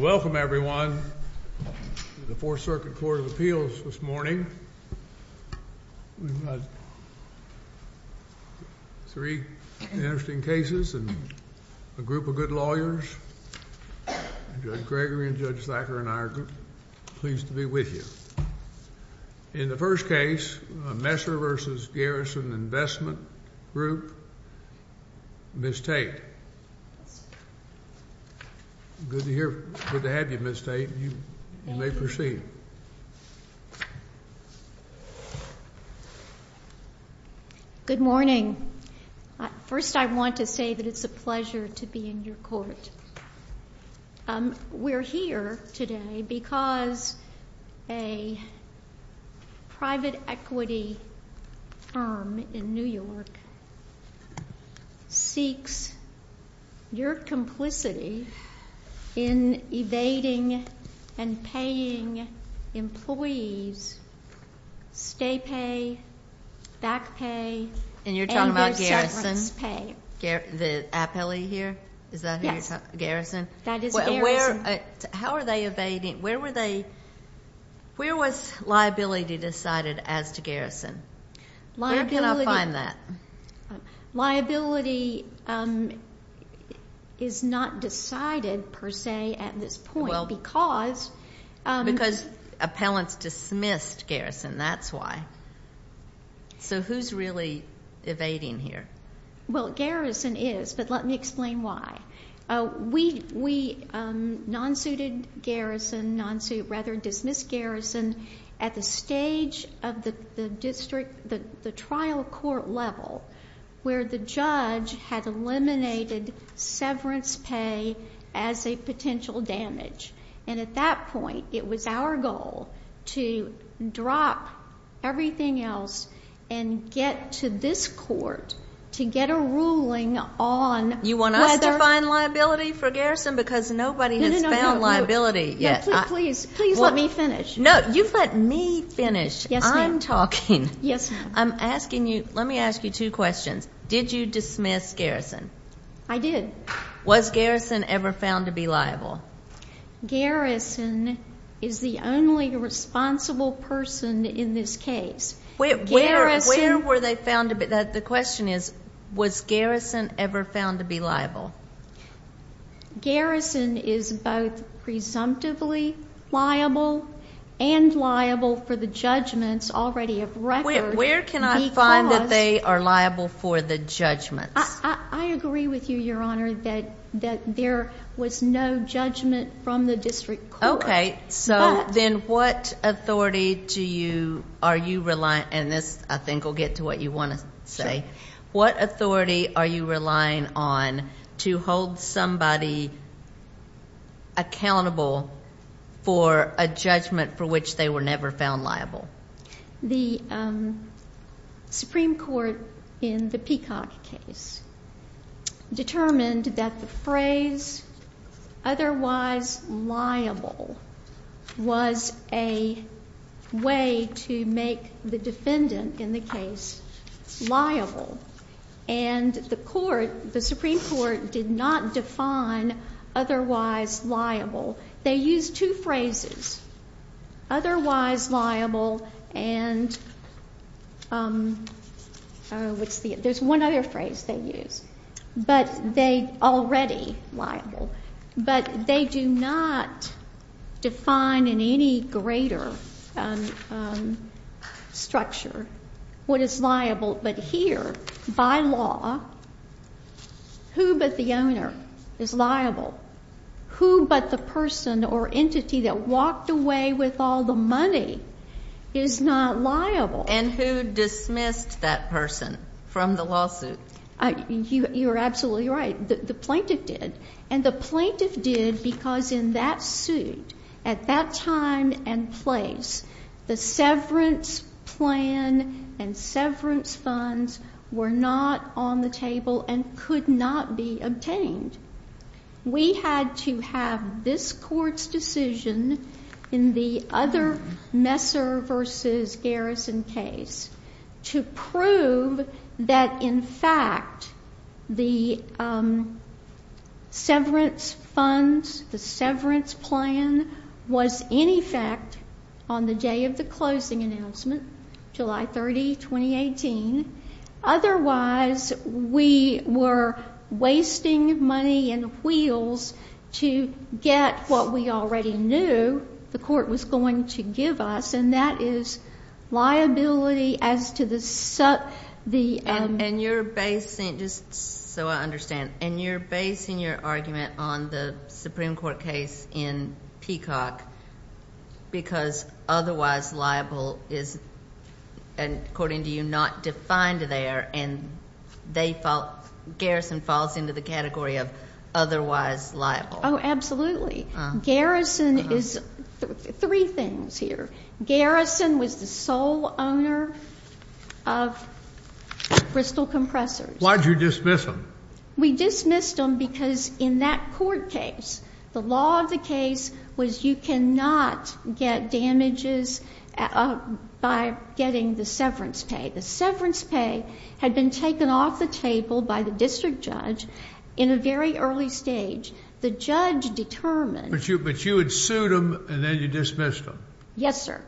Welcome, everyone, to the Fourth Circuit Court of Appeals this morning. Three interesting cases and a group of good lawyers. Judge Gregory and Judge Thacker and I are pleased to be with you. In the first case, Messer v. Garrison Investment Group. Ms. Tate. Good to have you, Ms. Tate. You may proceed. Good morning. First, I want to say that it's a pleasure to be in your court. We're here today because a private equity firm in New York seeks your complicity in evading and paying employees stay pay, back pay, and their severance pay. And you're talking about Garrison, the appellee here? Is that who you're talking about? Garrison? That is Garrison. How are they evading? Where were they? Where was liability decided as to Garrison? Where can I find that? Liability is not decided per se at this point because Because appellants dismissed Garrison. That's why. So who's really evading here? Well, Garrison is, but let me explain why. We non-suited Garrison, rather dismissed Garrison at the stage of the trial court level where the judge had eliminated severance pay as a potential damage. And at that point, it was our goal to drop everything else and get to this court to get a ruling on whether You want us to find liability for Garrison because nobody has found liability yet. No, please, please let me finish. No, you let me finish. Yes, ma'am. I'm talking. Yes, ma'am. I'm asking you, let me ask you two questions. Did you dismiss Garrison? I did. Was Garrison ever found to be liable? Garrison is the only responsible person in this case. Where were they found to be? The question is, was Garrison ever found to be liable? Garrison is both presumptively liable and liable for the judgments already of record because Where can I find that they are liable for the judgments? I agree with you, Your Honor, that there was no judgment from the district court. Okay. So then what authority do you, are you relying, and this I think will get to what you want to say. Sure. What authority are you relying on to hold somebody accountable for a judgment for which they were never found liable? The Supreme Court in the Peacock case determined that the phrase otherwise liable was a way to make the defendant in the case liable. And the court, the Supreme Court did not define otherwise liable. They used two phrases, otherwise liable and, oh, what's the, there's one other phrase they used. But they, already liable. But they do not define in any greater structure what is liable. But here, by law, who but the owner is liable. Who but the person or entity that walked away with all the money is not liable. And who dismissed that person from the lawsuit? You're absolutely right. The plaintiff did. And the plaintiff did because in that suit, at that time and place, the severance plan and severance funds were not on the table and could not be obtained. We had to have this court's decision in the other Messer v. Garrison case to prove that, in fact, the severance funds, the severance plan was in effect on the day of the closing announcement, July 30, 2018. Otherwise, we were wasting money and wheels to get what we already knew the court was going to give us. And that is liability as to the. And you're basing, just so I understand, and you're basing your argument on the Supreme Court case in Peacock because otherwise liable is, according to you, not defined there. And Garrison falls into the category of otherwise liable. Oh, absolutely. Garrison is three things here. Garrison was the sole owner of Bristol Compressors. Why did you dismiss them? We dismissed them because in that court case, the law of the case was you cannot get damages by getting the severance pay. The severance pay had been taken off the table by the district judge in a very early stage. The judge determined. But you had sued them and then you dismissed them. Yes, sir.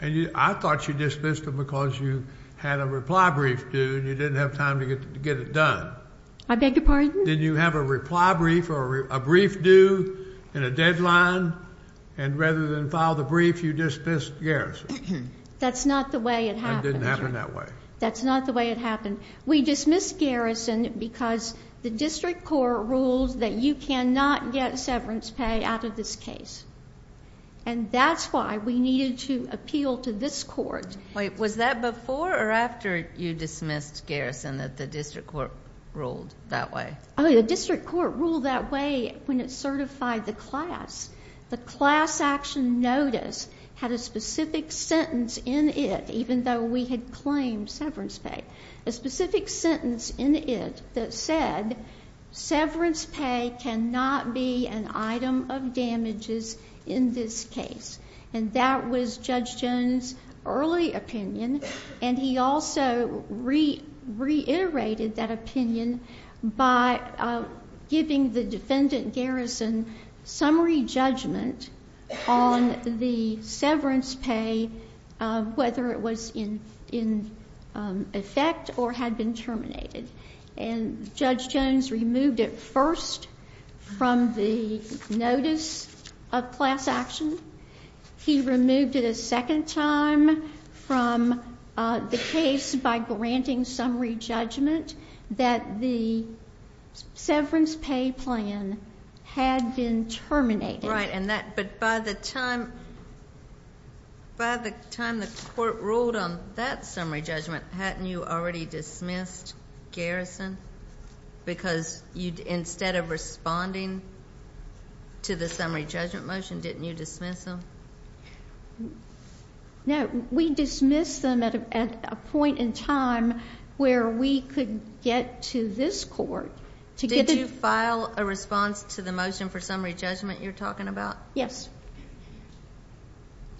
And I thought you dismissed them because you had a reply brief due and you didn't have time to get it done. I beg your pardon? Did you have a reply brief or a brief due and a deadline? And rather than file the brief, you dismissed Garrison. That's not the way it happened. It didn't happen that way. That's not the way it happened. We dismissed Garrison because the district court ruled that you cannot get severance pay out of this case. And that's why we needed to appeal to this court. Wait, was that before or after you dismissed Garrison that the district court ruled that way? Oh, the district court ruled that way when it certified the class. The class action notice had a specific sentence in it, even though we had claimed severance pay, a specific sentence in it that said severance pay cannot be an item of damages in this case. And that was Judge Jones' early opinion. And he also reiterated that opinion by giving the defendant Garrison summary judgment on the severance pay, whether it was in effect or had been terminated. And Judge Jones removed it first from the notice of class action. He removed it a second time from the case by granting summary judgment that the severance pay plan had been terminated. Right, but by the time the court ruled on that summary judgment, hadn't you already dismissed Garrison? Because instead of responding to the summary judgment motion, didn't you dismiss him? No, we dismissed them at a point in time where we could get to this court. Did you file a response to the motion for summary judgment you're talking about? Yes.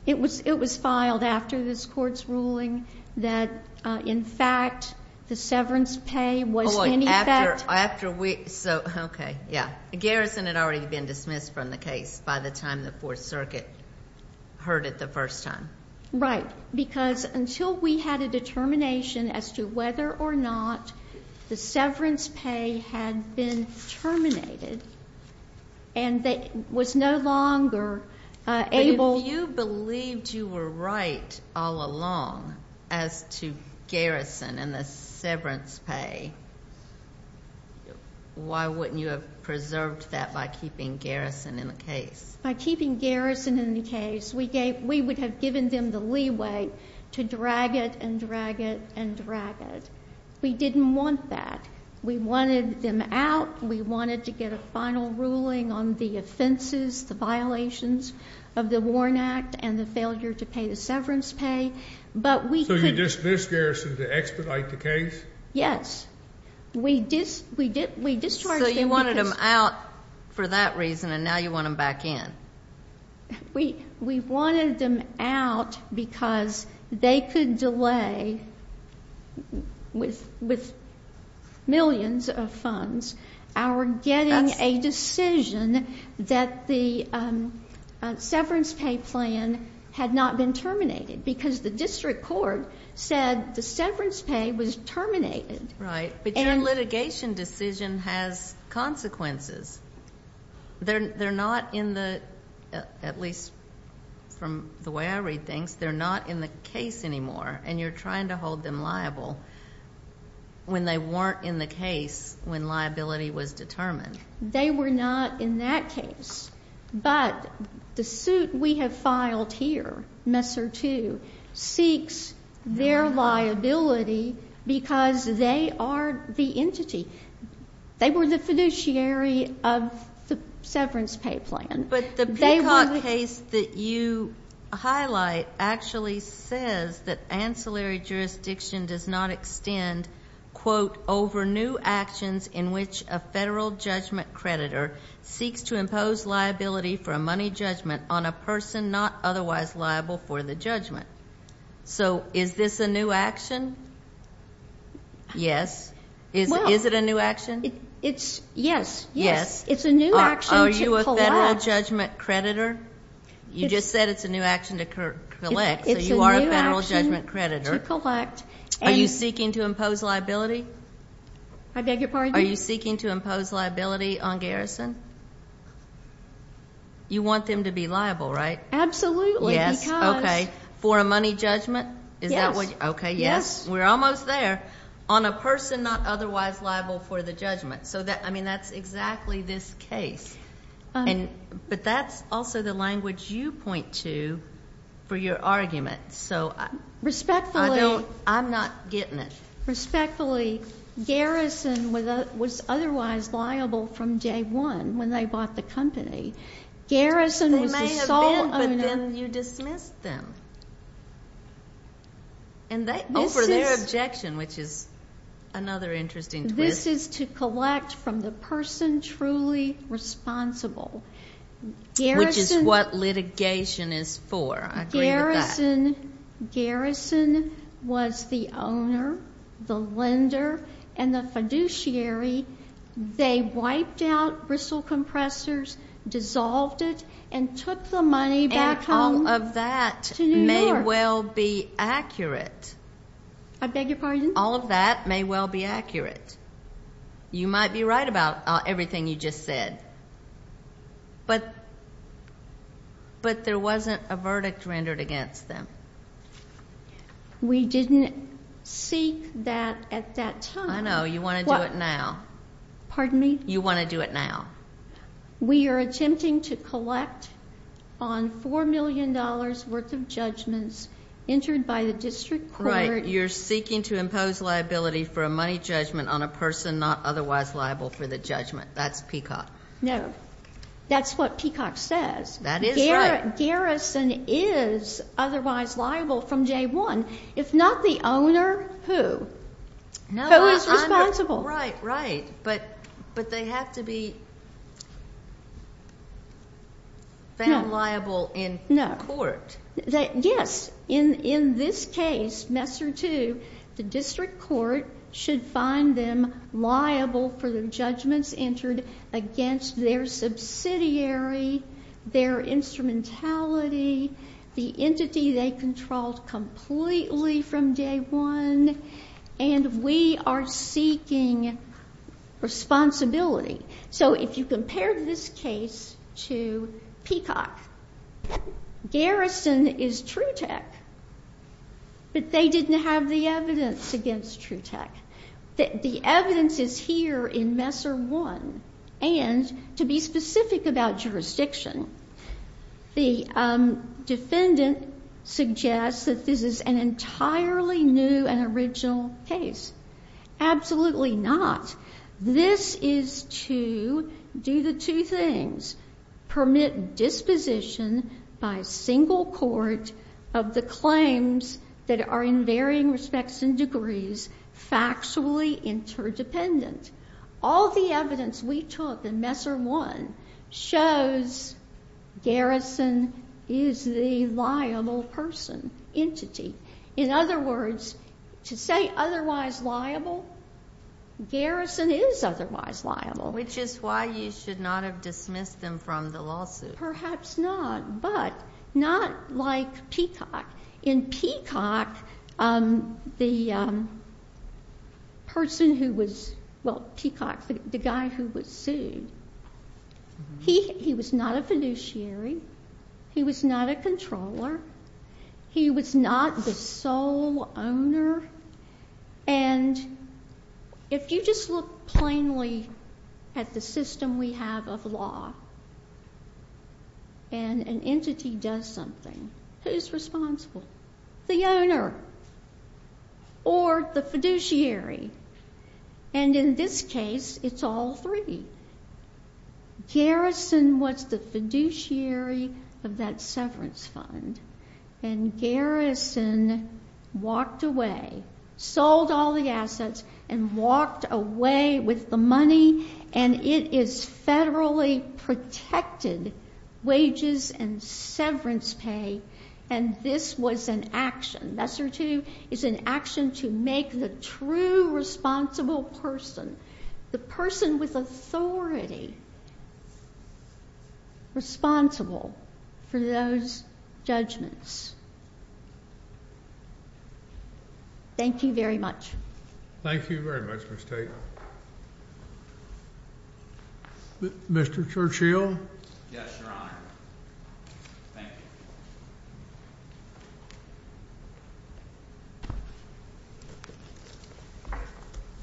It was filed after this court's ruling that, in fact, the severance pay was in effect. Oh, wait, after we, so, okay, yeah. Garrison had already been dismissed from the case by the time the Fourth Circuit heard it the first time. Right, because until we had a determination as to whether or not the severance pay had been terminated and they was no longer able. But if you believed you were right all along as to Garrison and the severance pay, why wouldn't you have preserved that by keeping Garrison in the case? By keeping Garrison in the case, we would have given them the leeway to drag it and drag it and drag it. We didn't want that. We wanted them out. We wanted to get a final ruling on the offenses, the violations of the Warren Act, and the failure to pay the severance pay, but we could. So you dismissed Garrison to expedite the case? Yes. We discharged them because. So you wanted them out for that reason, and now you want them back in. We wanted them out because they could delay, with millions of funds, our getting a decision that the severance pay plan had not been terminated because the district court said the severance pay was terminated. Right, but your litigation decision has consequences. They're not in the, at least from the way I read things, they're not in the case anymore, and you're trying to hold them liable when they weren't in the case when liability was determined. They were not in that case, but the suit we have filed here, Messer 2, seeks their liability because they are the entity. They were the fiduciary of the severance pay plan. But the Peacock case that you highlight actually says that ancillary jurisdiction does not extend, quote, over new actions in which a federal judgment creditor seeks to impose liability for a money judgment on a person not otherwise liable for the judgment. So is this a new action? Yes. Is it a new action? It's, yes, yes. It's a new action to collect. Are you a federal judgment creditor? You just said it's a new action to collect, so you are a federal judgment creditor. It's a new action to collect. Are you seeking to impose liability? I beg your pardon? Are you seeking to impose liability on Garrison? You want them to be liable, right? Absolutely, because. Yes, okay. For a money judgment? Yes. Okay, yes. We're almost there. On a person not otherwise liable for the judgment. So, I mean, that's exactly this case. But that's also the language you point to for your argument. Respectfully. I'm not getting it. Respectfully, Garrison was otherwise liable from day one when they bought the company. Garrison was the sole owner. They may have been, but then you dismissed them. And over their objection, which is another interesting twist. This is to collect from the person truly responsible. Which is what litigation is for. I agree with that. Garrison was the owner, the lender, and the fiduciary. They wiped out bristle compressors, dissolved it, and took the money back home. All of that may well be accurate. I beg your pardon? All of that may well be accurate. You might be right about everything you just said. But there wasn't a verdict rendered against them. We didn't seek that at that time. I know. You want to do it now. Pardon me? You want to do it now. We are attempting to collect on $4 million worth of judgments entered by the district court. You're seeking to impose liability for a money judgment on a person not otherwise liable for the judgment. That's Peacock. No. That's what Peacock says. That is right. Garrison is otherwise liable from day one. If not the owner, who? Who is responsible? Right, right. But they have to be found liable in court. Yes. In this case, Messer 2, the district court should find them liable for the judgments entered against their subsidiary, their instrumentality, the entity they controlled completely from day one. And we are seeking responsibility. So if you compare this case to Peacock, Garrison is True Tech, but they didn't have the evidence against True Tech. The evidence is here in Messer 1. And to be specific about jurisdiction, the defendant suggests that this is an entirely new and original case. Absolutely not. This is to do the two things. Permit disposition by single court of the claims that are in varying respects and degrees factually interdependent. All the evidence we took in Messer 1 shows Garrison is the liable person, entity. In other words, to say otherwise liable, Garrison is otherwise liable. Which is why you should not have dismissed them from the lawsuit. Perhaps not, but not like Peacock. In Peacock, the person who was, well, Peacock, the guy who was sued, he was not a fiduciary. He was not a controller. He was not the sole owner. And if you just look plainly at the system we have of law and an entity does something, who's responsible? The owner or the fiduciary. And in this case, it's all three. Garrison was the fiduciary of that severance fund. And Garrison walked away, sold all the assets, and walked away with the money. And it is federally protected wages and severance pay. And this was an action. Messer 2 is an action to make the true responsible person, the person with authority, responsible for those judgments. Thank you very much. Thank you very much, Ms. Tate. Mr. Churchill? Yes, Your Honor. Thank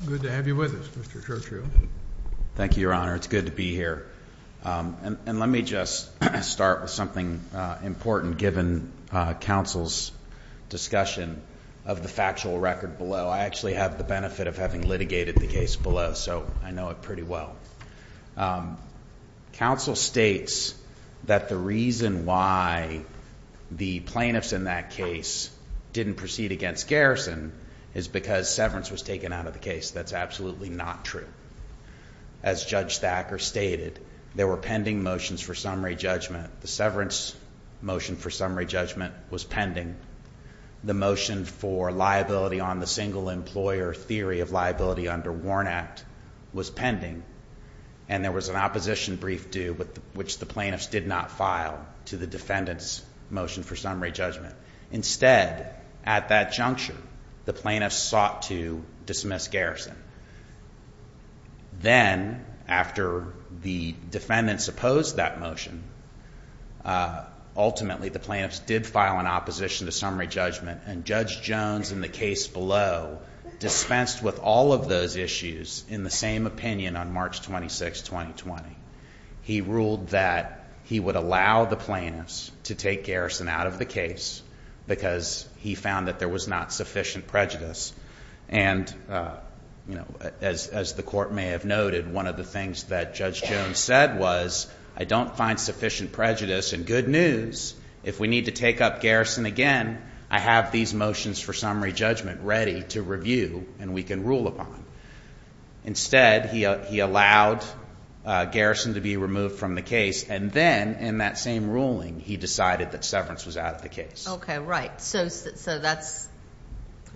you. Good to have you with us, Mr. Churchill. Thank you, Your Honor. It's good to be here. And let me just start with something important, given counsel's discussion of the factual record below. I actually have the benefit of having litigated the case below, so I know it pretty well. Counsel states that the reason why the plaintiffs in that case didn't proceed against Garrison is because severance was taken out of the case. That's absolutely not true. As Judge Thacker stated, there were pending motions for summary judgment. The severance motion for summary judgment was pending. The motion for liability on the single employer theory of liability under Warren Act was pending. And there was an opposition brief due, which the plaintiffs did not file, to the defendant's motion for summary judgment. Instead, at that juncture, the plaintiffs sought to dismiss Garrison. Then, after the defendants opposed that motion, ultimately the plaintiffs did file an opposition to summary judgment. And Judge Jones, in the case below, dispensed with all of those issues in the same opinion on March 26, 2020. He ruled that he would allow the plaintiffs to take Garrison out of the case because he found that there was not sufficient prejudice. And as the court may have noted, one of the things that Judge Jones said was, I don't find sufficient prejudice, and good news, if we need to take up Garrison again, I have these motions for summary judgment ready to review and we can rule upon. Instead, he allowed Garrison to be removed from the case, and then, in that same ruling, he decided that severance was out of the case. Okay, right. So that's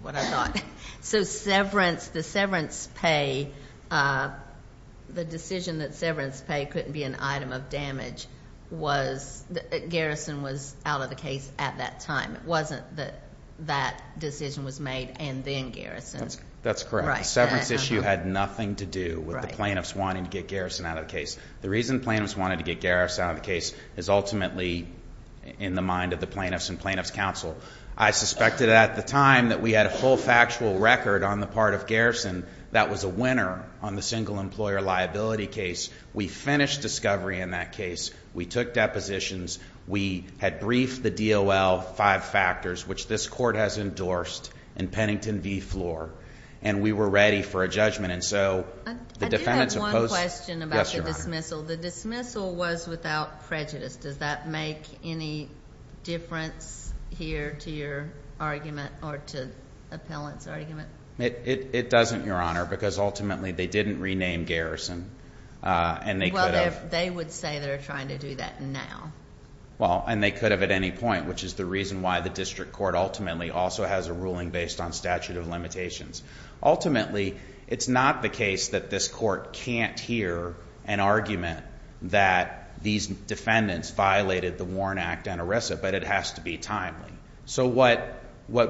what I thought. So severance, the severance pay, the decision that severance pay couldn't be an item of damage was that Garrison was out of the case at that time. It wasn't that that decision was made and then Garrison. That's correct. The severance issue had nothing to do with the plaintiffs wanting to get Garrison out of the case. The reason plaintiffs wanted to get Garrison out of the case is ultimately in the mind of the plaintiffs and plaintiffs' counsel. I suspected at the time that we had a full factual record on the part of Garrison that was a winner on the single employer liability case. We finished discovery in that case. We took depositions. We had briefed the DOL five factors, which this court has endorsed in Pennington v. Floor, and we were ready for a judgment. I do have one question about the dismissal. Yes, Your Honor. The dismissal was without prejudice. Does that make any difference here to your argument or to the appellant's argument? It doesn't, Your Honor, because ultimately they didn't rename Garrison and they could have. Well, they would say they're trying to do that now. Well, and they could have at any point, which is the reason why the district court ultimately also has a ruling based on statute of limitations. Ultimately, it's not the case that this court can't hear an argument that these defendants violated the Warren Act and ERISA, but it has to be timely. So what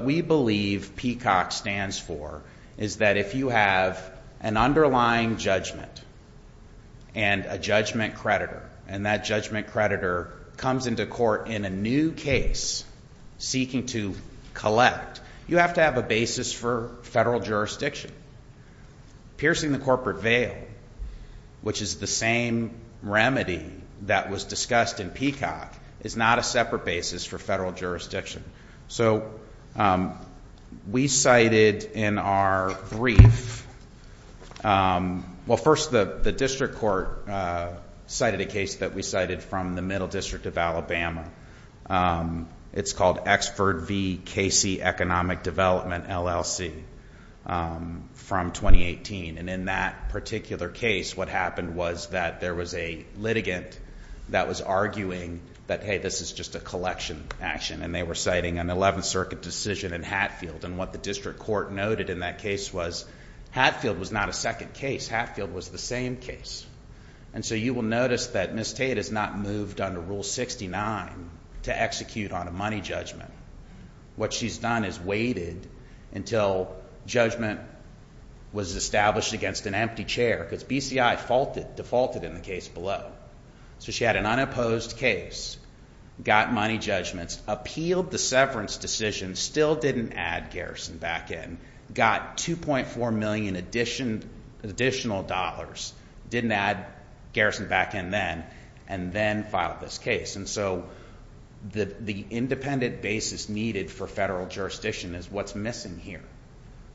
we believe PCOC stands for is that if you have an underlying judgment and a judgment creditor, and that judgment creditor comes into court in a new case seeking to collect, you have to have a basis for federal jurisdiction. Piercing the corporate veil, which is the same remedy that was discussed in PCOC, is not a separate basis for federal jurisdiction. So we cited in our brief, well, first the district court cited a case that we cited from the Middle District of Alabama. It's called Exford v. Casey Economic Development, LLC, from 2018. And in that particular case, what happened was that there was a litigant that was arguing that, hey, this is just a collection action. And they were citing an 11th Circuit decision in Hatfield. And what the district court noted in that case was Hatfield was not a second case. Hatfield was the same case. And so you will notice that Ms. Tate has not moved under Rule 69 to execute on a money judgment. What she's done is waited until judgment was established against an empty chair, because BCI defaulted in the case below. So she had an unopposed case, got money judgments, appealed the severance decision, still didn't add Garrison back in, got $2.4 million additional dollars, didn't add Garrison back in then, and then filed this case. And so the independent basis needed for federal jurisdiction is what's missing here.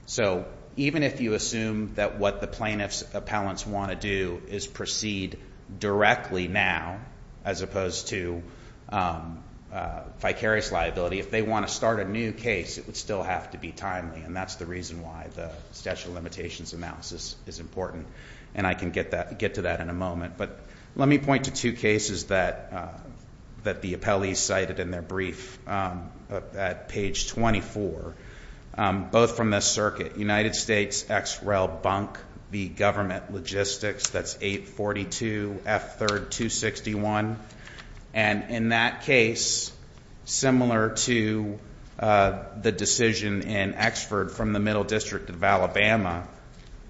So even if you assume that what the plaintiff's appellants want to do is proceed directly now as opposed to vicarious liability, if they want to start a new case, it would still have to be timely. And that's the reason why the statute of limitations analysis is important. And I can get to that in a moment. But let me point to two cases that the appellees cited in their brief at page 24, both from this circuit, United States, XREL, Bunk v. Government Logistics, that's 842F3261. And in that case, similar to the decision in Exford from the Middle District of Alabama,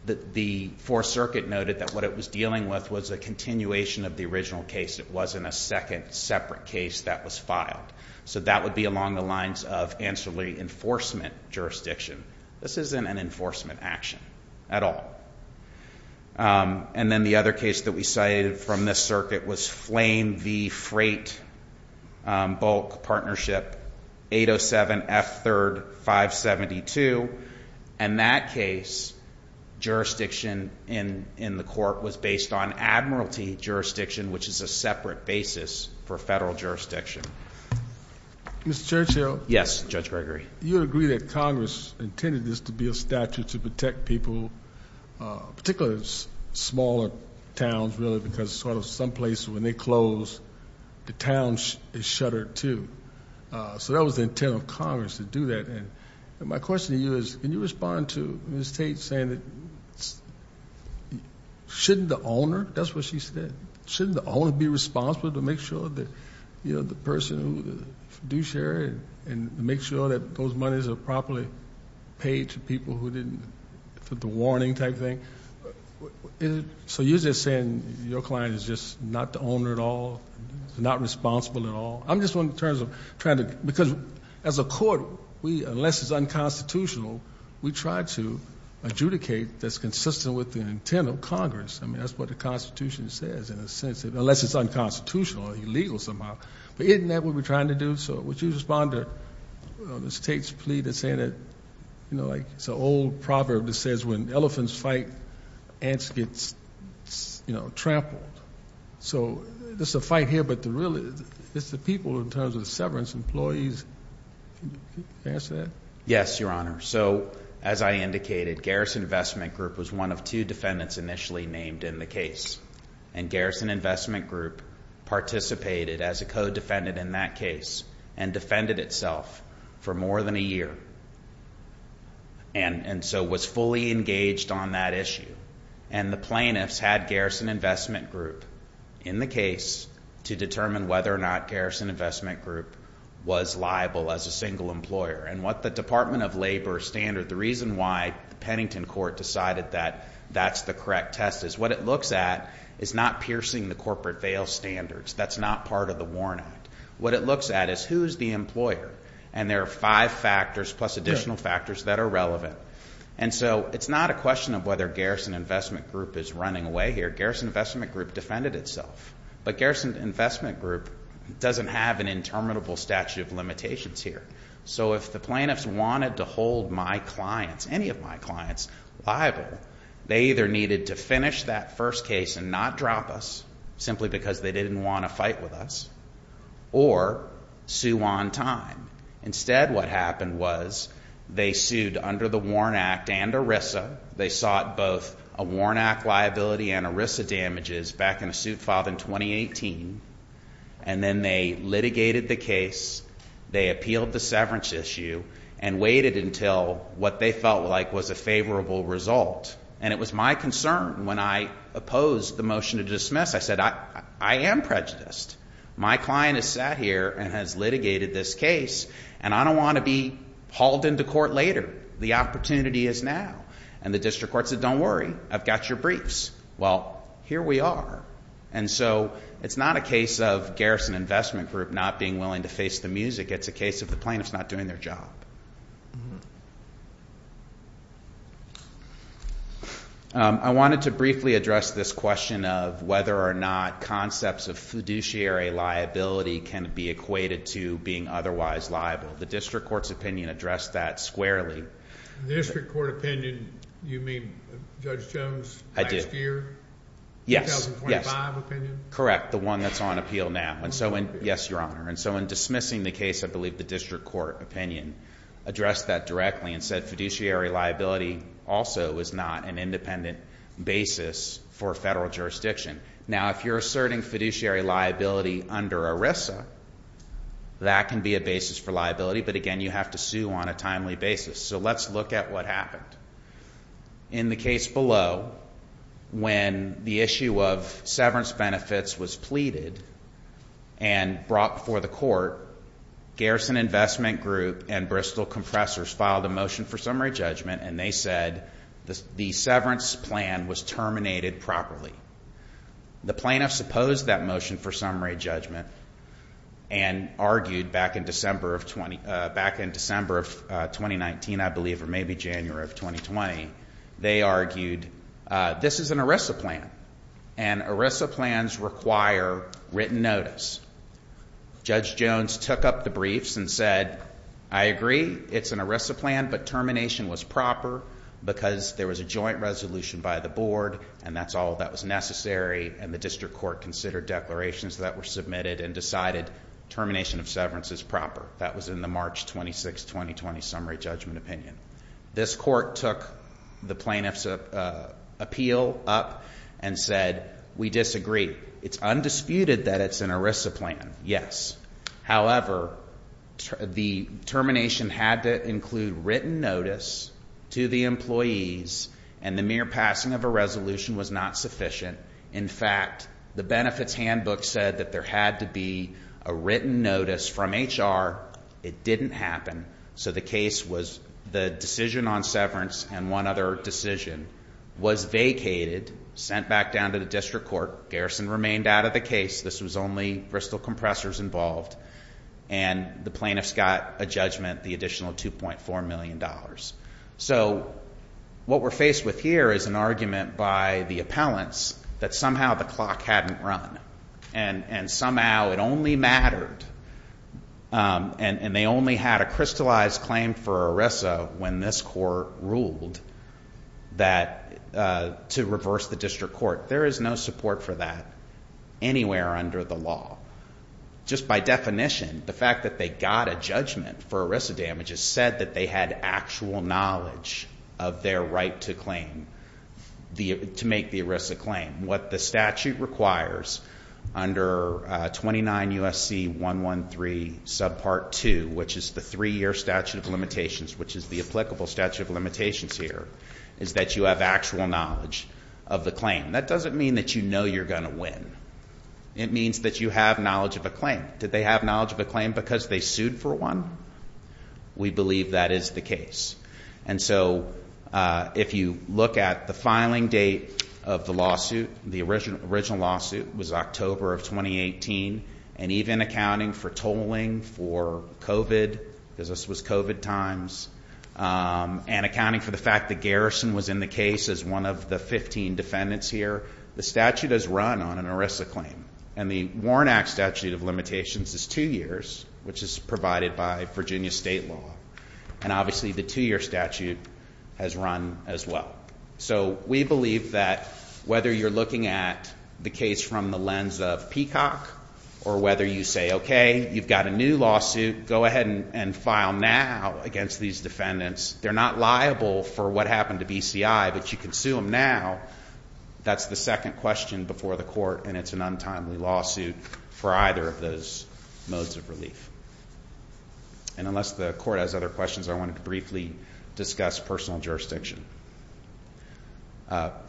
the Fourth Circuit noted that what it was dealing with was a continuation of the original case. It wasn't a second separate case that was filed. So that would be along the lines of ancillary enforcement jurisdiction. This isn't an enforcement action at all. And then the other case that we cited from this circuit was Flame v. Freight, Bulk Partnership, 807F3572. In that case, jurisdiction in the court was based on admiralty jurisdiction, which is a separate basis for federal jurisdiction. Mr. Churchill? Yes, Judge Gregory. Do you agree that Congress intended this to be a statute to protect people, particularly smaller towns, really, because sort of some places when they close, the town is shuttered too. So that was the intent of Congress to do that. And my question to you is, can you respond to Ms. Tate saying that shouldn't the owner, that's what she said, shouldn't the owner be responsible to make sure that, you know, the person who the fiduciary and make sure that those monies are properly paid to people who didn't, the warning type thing? So you're just saying your client is just not the owner at all, not responsible at all? I'm just wondering in terms of trying to, because as a court, unless it's unconstitutional, we try to adjudicate that's consistent with the intent of Congress. I mean, that's what the Constitution says in a sense, unless it's unconstitutional or illegal somehow. But isn't that what we're trying to do? So would you respond to Ms. Tate's plea to say that, you know, like it's an old proverb that says when elephants fight, ants get, you know, trampled. So there's a fight here, but really it's the people in terms of the severance employees. Can you answer that? Yes, Your Honor. So as I indicated, Garrison Investment Group was one of two defendants initially named in the case. And Garrison Investment Group participated as a co-defendant in that case and defended itself for more than a year and so was fully engaged on that issue. And the plaintiffs had Garrison Investment Group in the case to determine whether or not Garrison Investment Group was liable as a single employer. And what the Department of Labor standard, the reason why the Pennington court decided that that's the correct test is what it looks at is not piercing the corporate veil standards. That's not part of the WARN Act. What it looks at is who's the employer. And there are five factors plus additional factors that are relevant. And so it's not a question of whether Garrison Investment Group is running away here. Garrison Investment Group defended itself. But Garrison Investment Group doesn't have an interminable statute of limitations here. So if the plaintiffs wanted to hold my clients, any of my clients, liable, they either needed to finish that first case and not drop us simply because they didn't want to fight with us or sue on time. Instead, what happened was they sued under the WARN Act and ERISA. They sought both a WARN Act liability and ERISA damages back in a suit filed in 2018. And then they litigated the case. They appealed the severance issue and waited until what they felt like was a favorable result. And it was my concern when I opposed the motion to dismiss. I said, I am prejudiced. My client has sat here and has litigated this case, and I don't want to be hauled into court later. The opportunity is now. And the district court said, don't worry. I've got your briefs. Well, here we are. And so it's not a case of Garrison Investment Group not being willing to face the music. It's a case of the plaintiffs not doing their job. I wanted to briefly address this question of whether or not concepts of fiduciary liability can be equated to being otherwise liable. The district court's opinion addressed that squarely. The district court opinion, you mean Judge Jones' last year, 2025 opinion? Correct, the one that's on appeal now. Yes, Your Honor. And so in dismissing the case, I believe the district court opinion addressed that directly and said fiduciary liability also is not an independent basis for federal jurisdiction. Now, if you're asserting fiduciary liability under ERISA, that can be a basis for liability. But again, you have to sue on a timely basis. So let's look at what happened. In the case below, when the issue of severance benefits was pleaded and brought before the court, Garrison Investment Group and Bristol Compressors filed a motion for summary judgment and they said the severance plan was terminated properly. The plaintiffs opposed that motion for summary judgment and argued back in December of 2019, I believe, or maybe January of 2020, they argued this is an ERISA plan and ERISA plans require written notice. Judge Jones took up the briefs and said, I agree, it's an ERISA plan, but termination was proper because there was a joint resolution by the board and that's all that was necessary and the district court considered declarations that were submitted and decided termination of severance is proper. That was in the March 26, 2020 summary judgment opinion. This court took the plaintiff's appeal up and said we disagree. It's undisputed that it's an ERISA plan, yes. However, the termination had to include written notice to the employees and the mere passing of a resolution was not sufficient. In fact, the benefits handbook said that there had to be a written notice from HR. It didn't happen. So the case was the decision on severance and one other decision was vacated, sent back down to the district court. Garrison remained out of the case. This was only Bristol Compressors involved and the plaintiffs got a judgment, the additional $2.4 million. So what we're faced with here is an argument by the appellants that somehow the clock hadn't run and somehow it only mattered and they only had a crystallized claim for ERISA when this court ruled to reverse the district court. There is no support for that anywhere under the law. Just by definition, the fact that they got a judgment for ERISA damages said that they had actual knowledge of their right to claim, to make the ERISA claim. What the statute requires under 29 U.S.C. 113 subpart 2, which is the three-year statute of limitations, which is the applicable statute of limitations here, is that you have actual knowledge of the claim. That doesn't mean that you know you're going to win. It means that you have knowledge of a claim. Did they have knowledge of a claim because they sued for one? We believe that is the case. And so if you look at the filing date of the lawsuit, the original lawsuit was October of 2018, and even accounting for tolling for COVID, because this was COVID times, and accounting for the fact that Garrison was in the case as one of the 15 defendants here, the statute is run on an ERISA claim. And the Warren Act statute of limitations is two years, which is provided by Virginia state law. And obviously the two-year statute has run as well. So we believe that whether you're looking at the case from the lens of Peacock or whether you say, okay, you've got a new lawsuit, go ahead and file now against these defendants. They're not liable for what happened to BCI, but you can sue them now. That's the second question before the court, and it's an untimely lawsuit for either of those modes of relief. And unless the court has other questions, I wanted to briefly discuss personal jurisdiction.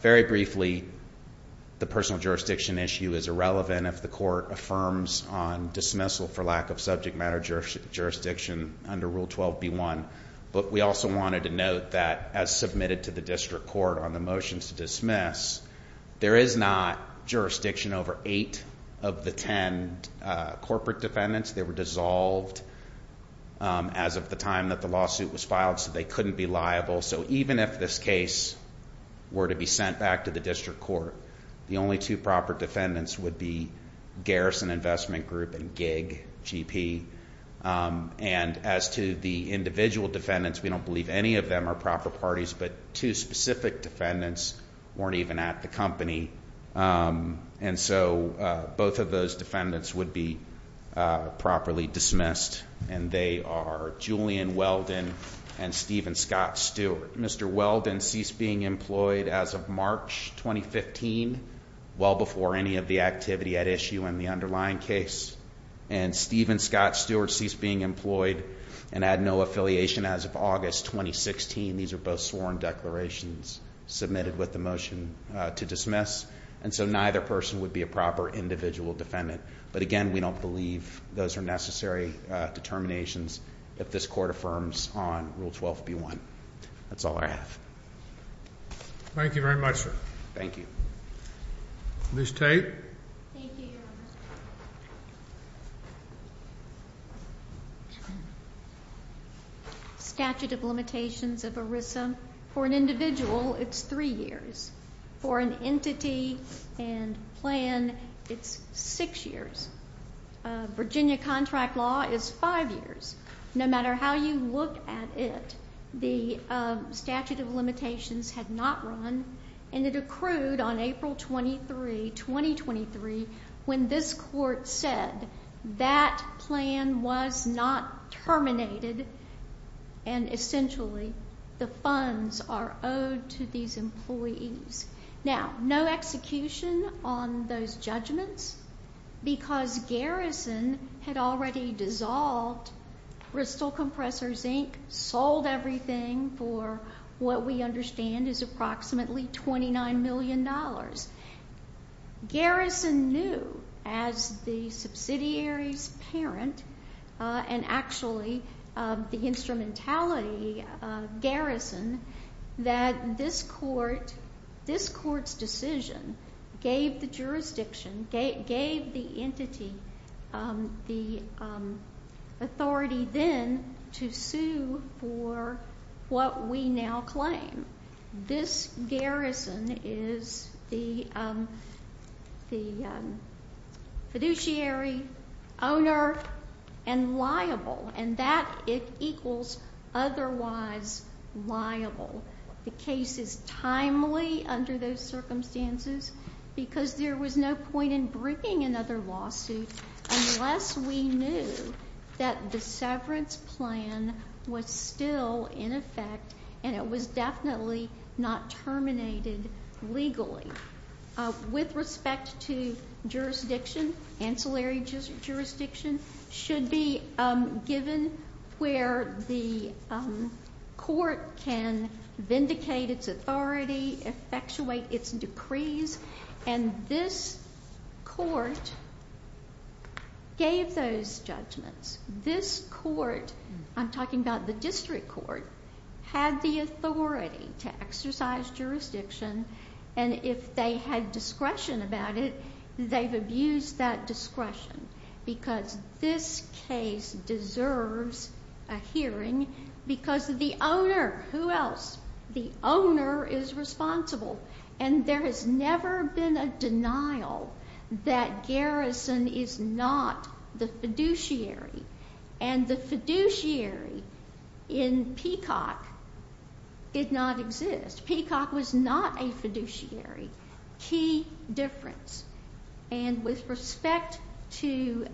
Very briefly, the personal jurisdiction issue is irrelevant if the court affirms on dismissal for lack of subject matter jurisdiction under Rule 12b1, but we also wanted to note that as submitted to the district court on the motions to dismiss, there is not jurisdiction over eight of the ten corporate defendants. They were dissolved as of the time that the lawsuit was filed, so they couldn't be liable. So even if this case were to be sent back to the district court, the only two proper defendants would be Garrison Investment Group and Gig, GP. And as to the individual defendants, we don't believe any of them are proper parties, but two specific defendants weren't even at the company, and so both of those defendants would be properly dismissed, and they are Julian Weldon and Steven Scott Stewart. Mr. Weldon ceased being employed as of March 2015, well before any of the activity at issue in the underlying case, and Steven Scott Stewart ceased being employed and had no affiliation as of August 2016. These are both sworn declarations submitted with the motion to dismiss, and so neither person would be a proper individual defendant. But again, we don't believe those are necessary determinations if this court affirms on Rule 12b1. That's all I have. Thank you very much, sir. Thank you. Ms. Tate. Thank you, Your Honor. Statute of limitations of ERISA, for an individual, it's three years. For an entity and plan, it's six years. Virginia contract law is five years. No matter how you look at it, the statute of limitations had not run, and it accrued on April 23, 2023, when this court said that plan was not terminated and essentially the funds are owed to these employees. Now, no execution on those judgments because Garrison had already dissolved Crystal Compressors, Inc., sold everything for what we understand is approximately $29 million. Garrison knew as the subsidiary's parent and actually the instrumentality of Garrison that this court's decision gave the jurisdiction, gave the entity the authority then to sue for what we now claim. This Garrison is the fiduciary, owner, and liable, and that it equals otherwise liable. The case is timely under those circumstances because there was no point in bringing another lawsuit unless we knew that the severance plan was still in effect and it was definitely not terminated legally. With respect to jurisdiction, ancillary jurisdiction should be given where the court can vindicate its authority, effectuate its decrees, and this court gave those judgments. This court, I'm talking about the district court, had the authority to exercise jurisdiction, and if they had discretion about it, they've abused that discretion because this case deserves a hearing because of the owner. Who else? The owner is responsible, and there has never been a denial that Garrison is not the fiduciary, and the fiduciary in Peacock did not exist. Peacock was not a fiduciary, key difference, and with respect to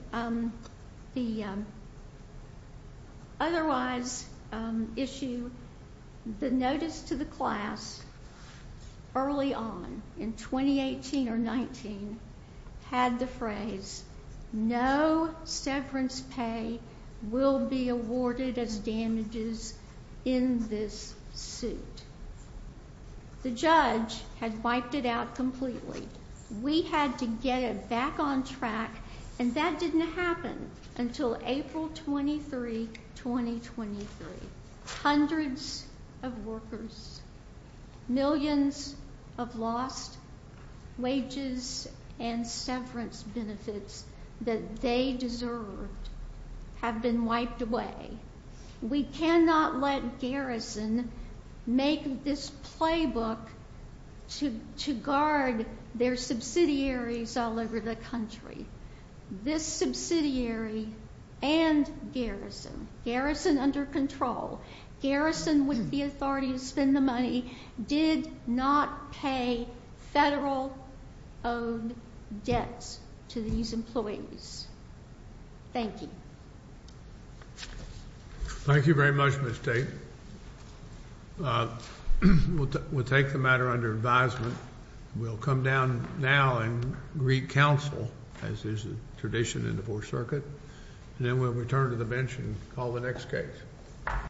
the otherwise issue, the notice to the class early on in 2018 or 19 had the phrase, no severance pay will be awarded as damages in this suit. The judge had wiped it out completely. We had to get it back on track, and that didn't happen until April 23, 2023. Hundreds of workers, millions of lost wages and severance benefits that they deserved have been wiped away. We cannot let Garrison make this playbook to guard their subsidiaries all over the country. This subsidiary and Garrison, Garrison under control, Garrison with the authority to spend the money, did not pay federal owed debts to these employees. Thank you. Thank you very much, Ms. Tate. We'll take the matter under advisement. We'll come down now and greet counsel, as is the tradition in the Fourth Circuit, and then we'll return to the bench and call the next case.